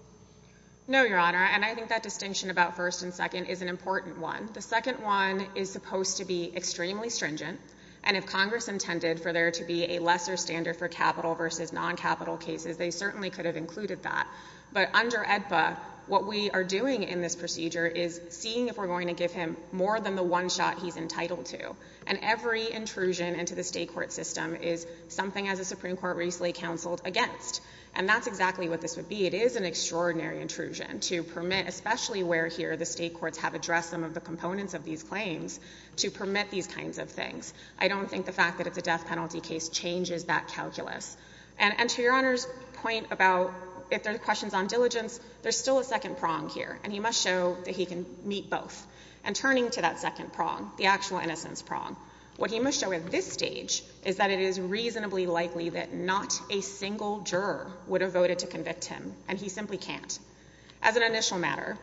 No, Your Honor. And I think that distinction about first and second is an important one. The second one is supposed to be extremely stringent. And if Congress intended for there to be a lesser standard for capital versus non-capital cases, they certainly could have included that. But under AEDPA, what we are doing in this procedure is seeing if we're going to give him more than the one shot he's entitled to. And every intrusion into the state court system is something, as the Supreme Court recently counseled, against. And that's exactly what this would be. It is an extraordinary intrusion to permit, especially where here the state courts have addressed some of the components of these claims, to permit these kinds of things. I don't think the fact that it's a death penalty case changes that calculus. And to Your Honor's point about if there are questions on diligence, there's still a second prong here. And he must show that he can meet both. And turning to that second prong, the actual innocence prong, what he must show at this stage is that it is reasonably likely that not a single juror would have voted to convict him. And he simply can't. As an initial matter,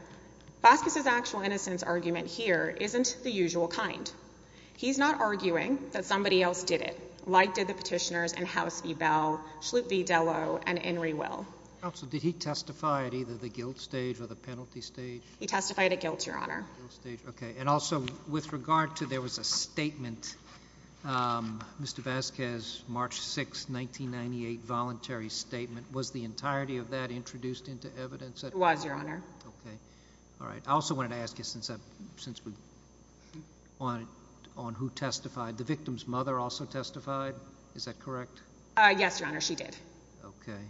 Vasquez's actual innocence argument here isn't the usual kind. He's not arguing that somebody else did it, like did the petitioners in House Ebell, Schlupf v. Dello, and In re Will. Counsel, did he testify at either the guilt stage or the penalty stage? He testified at guilt, Your Honor. Okay. And also with regard to there was a statement, Mr. Vasquez, March 6, 1998, voluntary statement, was the entirety of that introduced into evidence? It was, Your Honor. Okay. All right. I also wanted to ask you, since we're on who testified, the victim's mother also testified? Is that correct? Yes, Your Honor. She did. Okay.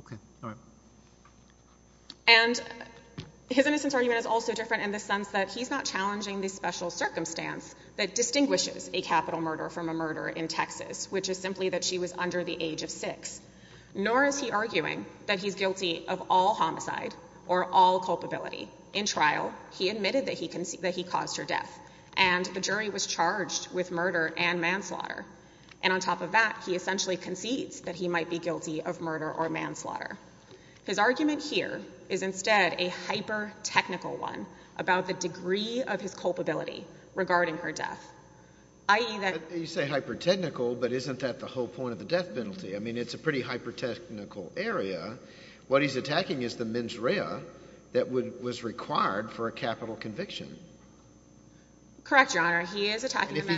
Okay. All right. And his innocence argument is also different in the sense that he's not challenging the special circumstance that distinguishes a capital murder from a murder in Texas, which is simply that she was under the age of six. Nor is he arguing that he's guilty of all homicide or all culpability. In trial, he admitted that he caused her death, and the jury was charged with murder and manslaughter. And on top of that, he essentially concedes that he might be guilty of murder or manslaughter. His argument here is instead a hyper-technical one about the degree of his culpability regarding her death, i.e. You say hyper-technical, but isn't that the whole point of the death penalty? I mean, it's a pretty hyper-technical area. What he's attacking is the mens rea that was required for a capital conviction. Correct, Your Honor. He is attacking the mens rea.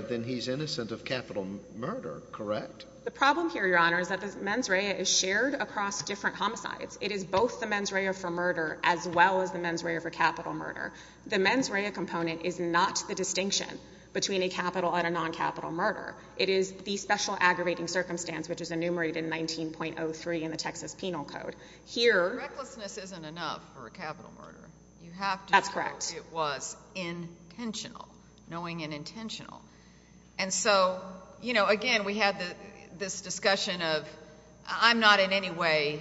Then he's innocent of capital murder, correct? The problem here, Your Honor, is that the mens rea is shared across different homicides. It is both the mens rea for murder as well as the mens rea for capital murder. The mens rea component is not the distinction between a capital and a non-capital murder. It is the special aggravating circumstance, which is enumerated in 19.03 in the Texas Penal Code. Here— Recklessness isn't enough for a capital murder. That's correct. It was intentional, knowing and intentional. Again, we had this discussion of I'm not in any way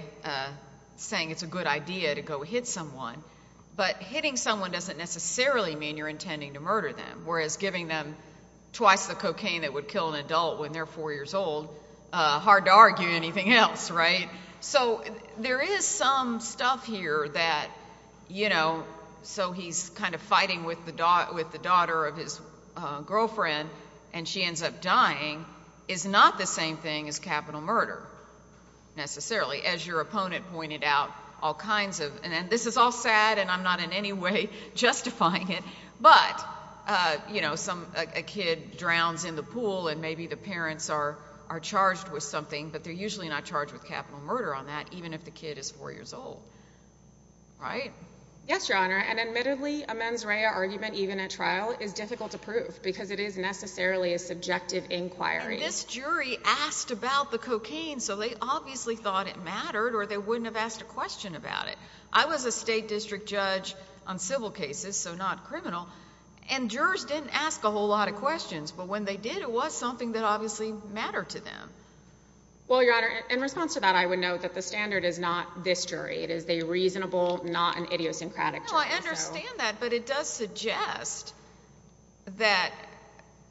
saying it's a good idea to go hit someone, but hitting someone doesn't necessarily mean you're intending to murder them, whereas giving them twice the cocaine that would kill an adult when they're 4 years old, hard to argue anything else, right? So there is some stuff here that, you know, so he's kind of fighting with the daughter of his girlfriend and she ends up dying is not the same thing as capital murder necessarily, as your opponent pointed out all kinds of—and this is all sad and I'm not in any way justifying it, but, you know, a kid drowns in the pool and maybe the parents are charged with something, but they're usually not charged with capital murder on that even if the kid is 4 years old, right? Yes, Your Honor, and admittedly a mens rea argument even at trial is difficult to prove because it is necessarily a subjective inquiry. And this jury asked about the cocaine so they obviously thought it mattered or they wouldn't have asked a question about it. I was a state district judge on civil cases, so not criminal, and jurors didn't ask a whole lot of questions, but when they did, it was something that obviously mattered to them. Well, Your Honor, in response to that, I would note that the standard is not this jury. It is a reasonable, not an idiosyncratic jury. No, I understand that, but it does suggest that,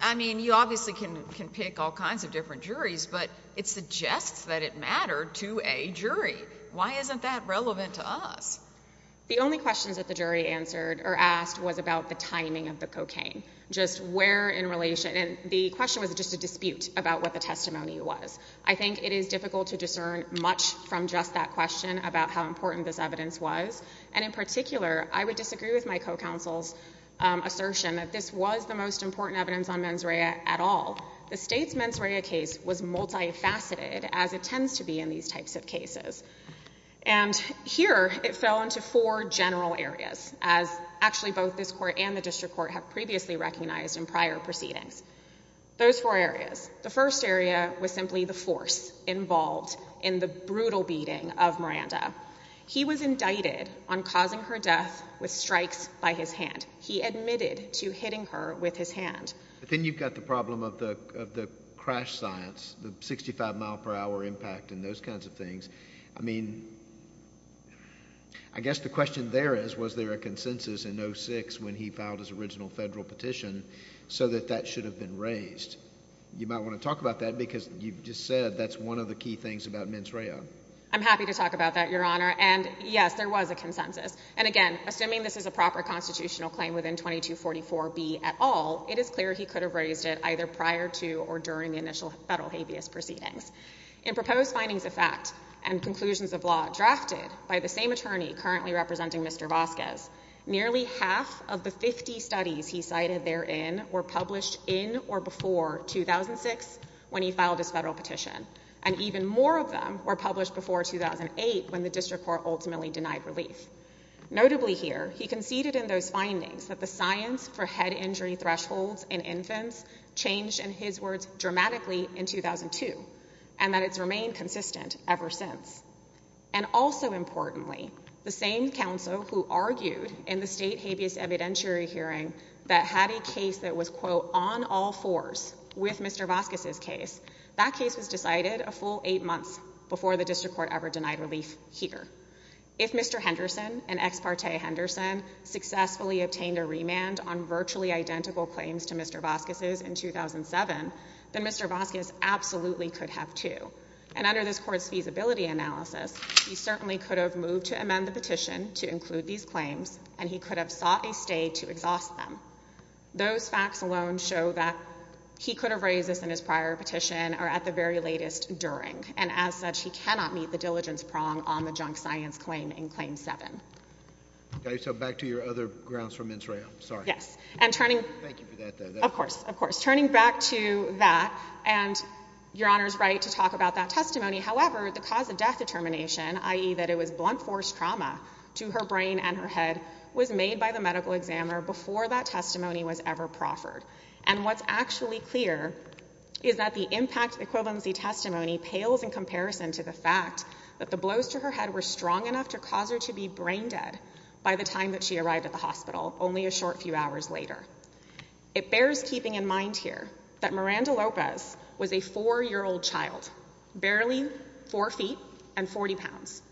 I mean, you obviously can pick all kinds of different juries, but it suggests that it mattered to a jury. Why isn't that relevant to us? The only questions that the jury answered or asked was about the timing of the cocaine, just where in relation, and the question was just a dispute about what the testimony was. I think it is difficult to discern much from just that question about how important this evidence was, and in particular, I would disagree with my co-counsel's assertion that this was the most important evidence on mens rea at all. The state's mens rea case was multifaceted, as it tends to be in these types of cases, and here it fell into four general areas, as actually both this court and the district court have previously recognized in prior proceedings. Those four areas. The first area was simply the force involved in the brutal beating of Miranda. He was indicted on causing her death with strikes by his hand. He admitted to hitting her with his hand. Then you've got the problem of the crash science, the 65-mile-per-hour impact and those kinds of things. I mean, I guess the question there is was there a consensus in 06 when he filed his original federal petition so that that should have been raised? You might want to talk about that because you just said that's one of the key things about mens rea. I'm happy to talk about that, Your Honor, and yes, there was a consensus, and again, assuming this is a proper constitutional claim within 2244B at all, it is clear he could have raised it either prior to or during the initial federal habeas proceedings. In proposed findings of fact and conclusions of law drafted by the same attorney currently representing Mr. Vasquez, nearly half of the 50 studies he cited therein were published in or before 2006 when he filed his federal petition, and even more of them were published before 2008 when the district court ultimately denied relief. Notably here, he conceded in those findings that the science for head injury thresholds in infants changed, in his words, dramatically in 2002 and that it's remained consistent ever since. And also importantly, the same counsel who argued in the state habeas evidentiary hearing that had a case that was, quote, on all fours with Mr. Vasquez's case, that case was decided a full eight months before the district court ever denied relief here. If Mr. Henderson and ex parte Henderson successfully obtained a remand on virtually identical claims to Mr. Vasquez's in 2007, then Mr. Vasquez absolutely could have, too. And under this Court's feasibility analysis, he certainly could have moved to amend the petition to include these claims, and he could have sought a stay to exhaust them. Those facts alone show that he could have raised this in his prior petition or at the very latest during, and as such, he cannot meet the diligence prong on the junk science claim in Claim 7. Okay, so back to your other grounds from Israel. Sorry. Yes. And turning... Thank you for that, though. Of course. Of course. Turning back to that, and Your Honor's right to talk about that testimony. However, the cause of death determination, i.e., that it was blunt force trauma to her brain and her head, was made by the medical examiner before that testimony was ever proffered. And what's actually clear is that the impact equivalency testimony pales in comparison to the fact that the blows to her head were strong enough to cause her to be brain dead by the time that she arrived at the hospital, only a short few hours later. It bears keeping in mind here that Miranda Lopez was a 4-year-old child, barely 4 feet and 40 pounds.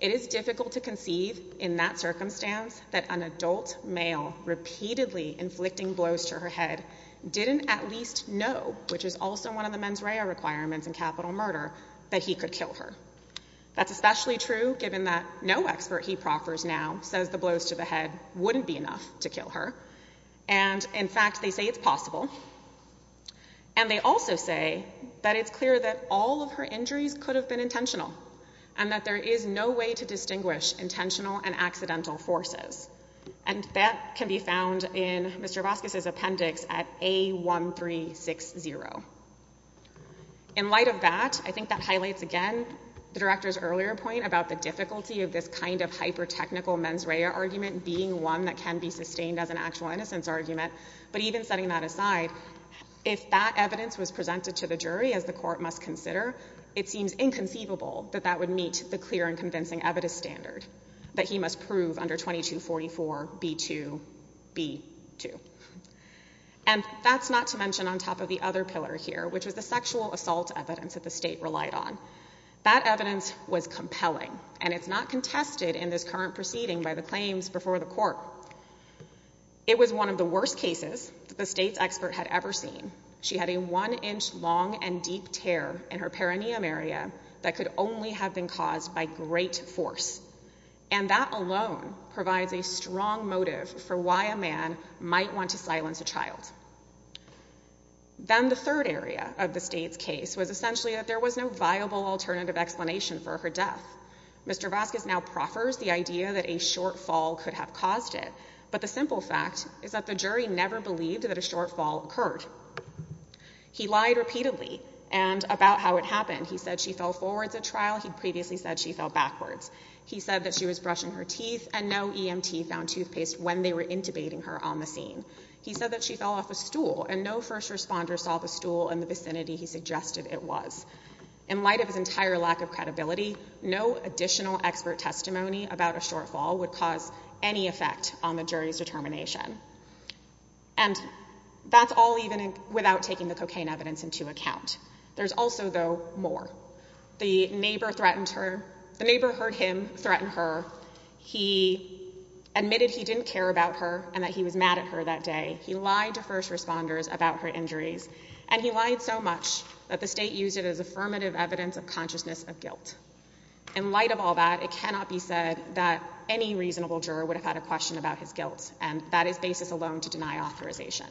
It is difficult to conceive in that circumstance that an adult male repeatedly inflicting blows to her head didn't at least know, which is also one of the mens rea requirements in capital murder, that he could kill her. That's especially true given that no expert he proffers now says the blows to the head wouldn't be enough to kill her. And in fact, they say it's possible. And they also say that it's clear that all of her injuries could have been intentional and that there is no way to distinguish intentional and accidental forces. And that can be found in Mr. Vasquez's appendix at A1360. In light of that, I think that highlights again the director's earlier point about the difficulty of this kind of hyper-technical mens rea argument being one that can be sustained as an actual innocence argument. But even setting that aside, if that evidence was presented to the jury, as the court must consider, it seems inconceivable that that would meet the clear and convincing evidence standard that he must prove under 2244B2B2. And that's not to mention on top of the other pillar here, which was the sexual assault evidence that the state relied on. That evidence was compelling, and it's not contested in this current proceeding by the claims before the court. It was one of the worst cases that the state's expert had ever seen. She had a one-inch long and deep tear in her perineum area that could only have been caused by great force. And that alone provides a strong motive for why a man might want to silence a child. Then the third area of the state's case was essentially that there was no viable alternative explanation for her death. Mr. Vasquez now proffers the idea that a shortfall could have caused it. But the simple fact is that the jury never believed that a shortfall occurred. He lied repeatedly about how it happened. He said she fell forwards at trial. He previously said she fell backwards. He said that she was brushing her teeth, and no EMT found toothpaste when they were intubating her on the scene. He said that she fell off a stool, and no first responder saw the stool in the vicinity he suggested it was. In light of his entire lack of credibility, no additional expert testimony about a shortfall would cause any effect on the jury's determination. And that's all even without taking the cocaine evidence into account. There's also, though, more. The neighbor heard him threaten her. He admitted he didn't care about her and that he was mad at her that day. He lied to first responders about her injuries. And he lied so much that the state used it as affirmative evidence of consciousness of guilt. In light of all that, it cannot be said that any reasonable juror would have had a question about his guilt. And that is basis alone to deny authorization.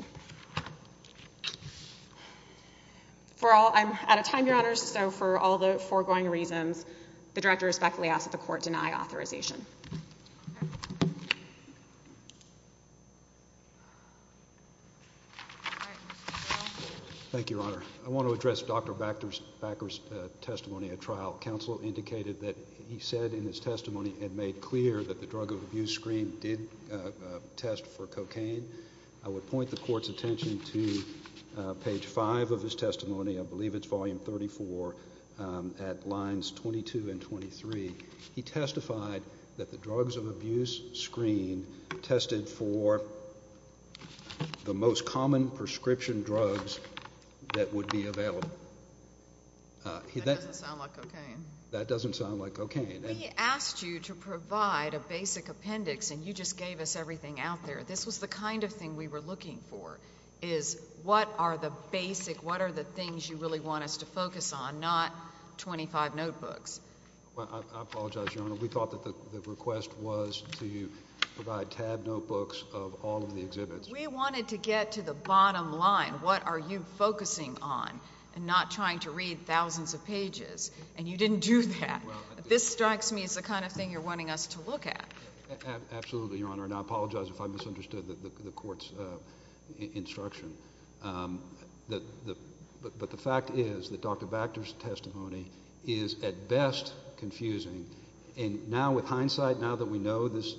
I'm out of time, Your Honors. So for all the foregoing reasons, the director respectfully asks that the court deny authorization. Thank you, Your Honor. I want to address Dr. Bakker's testimony at trial. Counsel indicated that he said in his testimony and made clear that the drug abuse screen did test for cocaine. I would point the court's attention to page 5 of his testimony. I believe it's volume 34 at lines 22 and 23. He testified that the drugs of abuse screen tested for the most common prescription drugs that would be available. That doesn't sound like cocaine. That doesn't sound like cocaine. We asked you to provide a basic appendix, and you just gave us everything out there. This was the kind of thing we were looking for is what are the basic, what are the things you really want us to focus on, not 25 notebooks. I apologize, Your Honor. We thought that the request was to provide tab notebooks of all of the exhibits. We wanted to get to the bottom line. What are you focusing on and not trying to read thousands of pages, and you didn't do that. This strikes me as the kind of thing you're wanting us to look at. Absolutely, Your Honor. And I apologize if I misunderstood the court's instruction. But the fact is that Dr. Bacter's testimony is at best confusing. And now with hindsight, now that we know this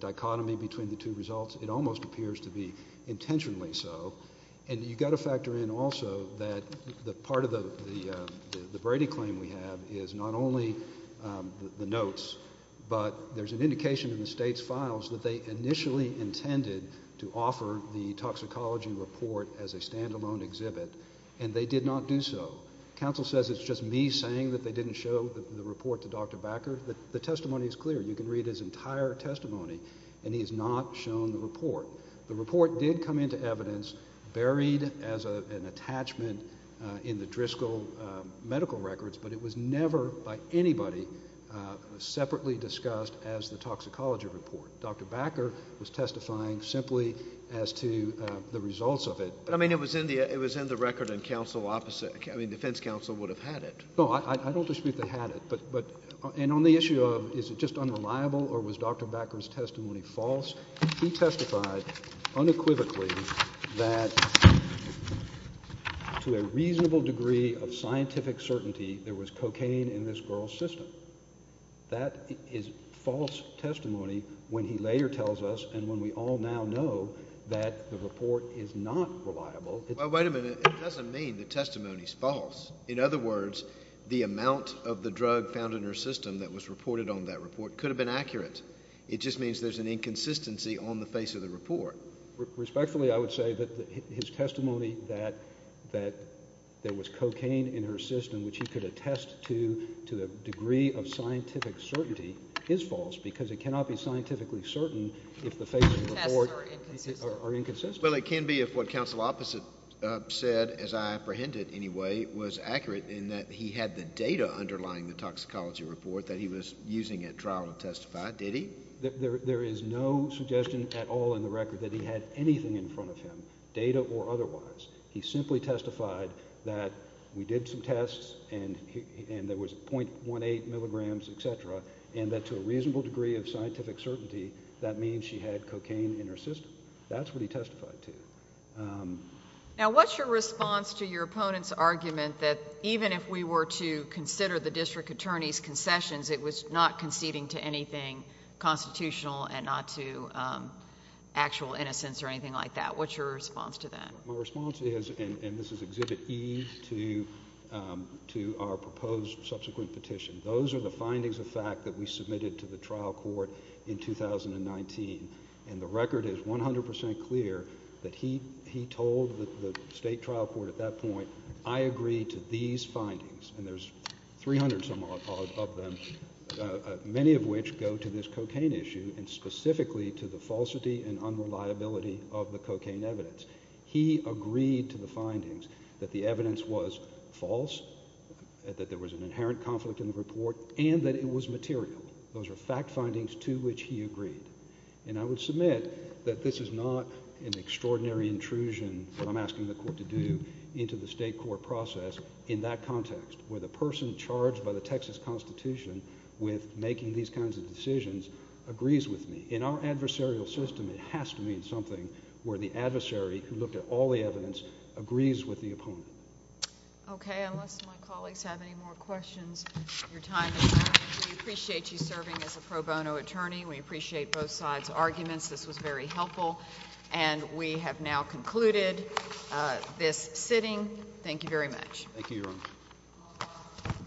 dichotomy between the two results, it almost appears to be intentionally so. And you've got to factor in also that part of the Brady claim we have is not only the notes, but there's an indication in the State's files that they initially intended to offer the toxicology report as a stand-alone exhibit, and they did not do so. Counsel says it's just me saying that they didn't show the report to Dr. Bacter. The testimony is clear. You can read his entire testimony, and he has not shown the report. The report did come into evidence buried as an attachment in the Driscoll medical records, but it was never by anybody separately discussed as the toxicology report. Dr. Bacter was testifying simply as to the results of it. But, I mean, it was in the record and counsel opposite – I mean defense counsel would have had it. No, I don't dispute they had it. And on the issue of is it just unreliable or was Dr. Bacter's testimony false, he testified unequivocally that to a reasonable degree of scientific certainty there was cocaine in this girl's system. That is false testimony when he later tells us and when we all now know that the report is not reliable. Wait a minute. It doesn't mean the testimony is false. In other words, the amount of the drug found in her system that was reported on that report could have been accurate. It just means there's an inconsistency on the face of the report. Respectfully, I would say that his testimony that there was cocaine in her system, which he could attest to to a degree of scientific certainty, is false because it cannot be scientifically certain if the face of the report are inconsistent. Well, it can be if what counsel opposite said, as I apprehended anyway, was accurate in that he had the data underlying the toxicology report that he was using at trial to testify. Did he? There is no suggestion at all in the record that he had anything in front of him, data or otherwise. He simply testified that we did some tests and there was .18 milligrams, et cetera, and that to a reasonable degree of scientific certainty that means she had cocaine in her system. That's what he testified to. Now, what's your response to your opponent's argument that even if we were to consider the district attorney's concessions, it was not conceding to anything constitutional and not to actual innocence or anything like that? What's your response to that? My response is, and this is Exhibit E to our proposed subsequent petition, those are the findings of fact that we submitted to the trial court in 2019, and the record is 100 percent clear that he told the state trial court at that point, I agree to these findings, and there's 300 some odd of them, many of which go to this cocaine issue and specifically to the falsity and unreliability of the cocaine evidence. He agreed to the findings that the evidence was false, that there was an inherent conflict in the report, and that it was material. Those are fact findings to which he agreed, and I would submit that this is not an extraordinary intrusion, what I'm asking the court to do, into the state court process in that context where the person charged by the Texas Constitution with making these kinds of decisions agrees with me. In our adversarial system, it has to mean something where the adversary, who looked at all the evidence, agrees with the opponent. Okay, unless my colleagues have any more questions, your time is up. We appreciate you serving as a pro bono attorney. We appreciate both sides' arguments. This was very helpful, and we have now concluded this sitting. Thank you very much. Thank you, Your Honor.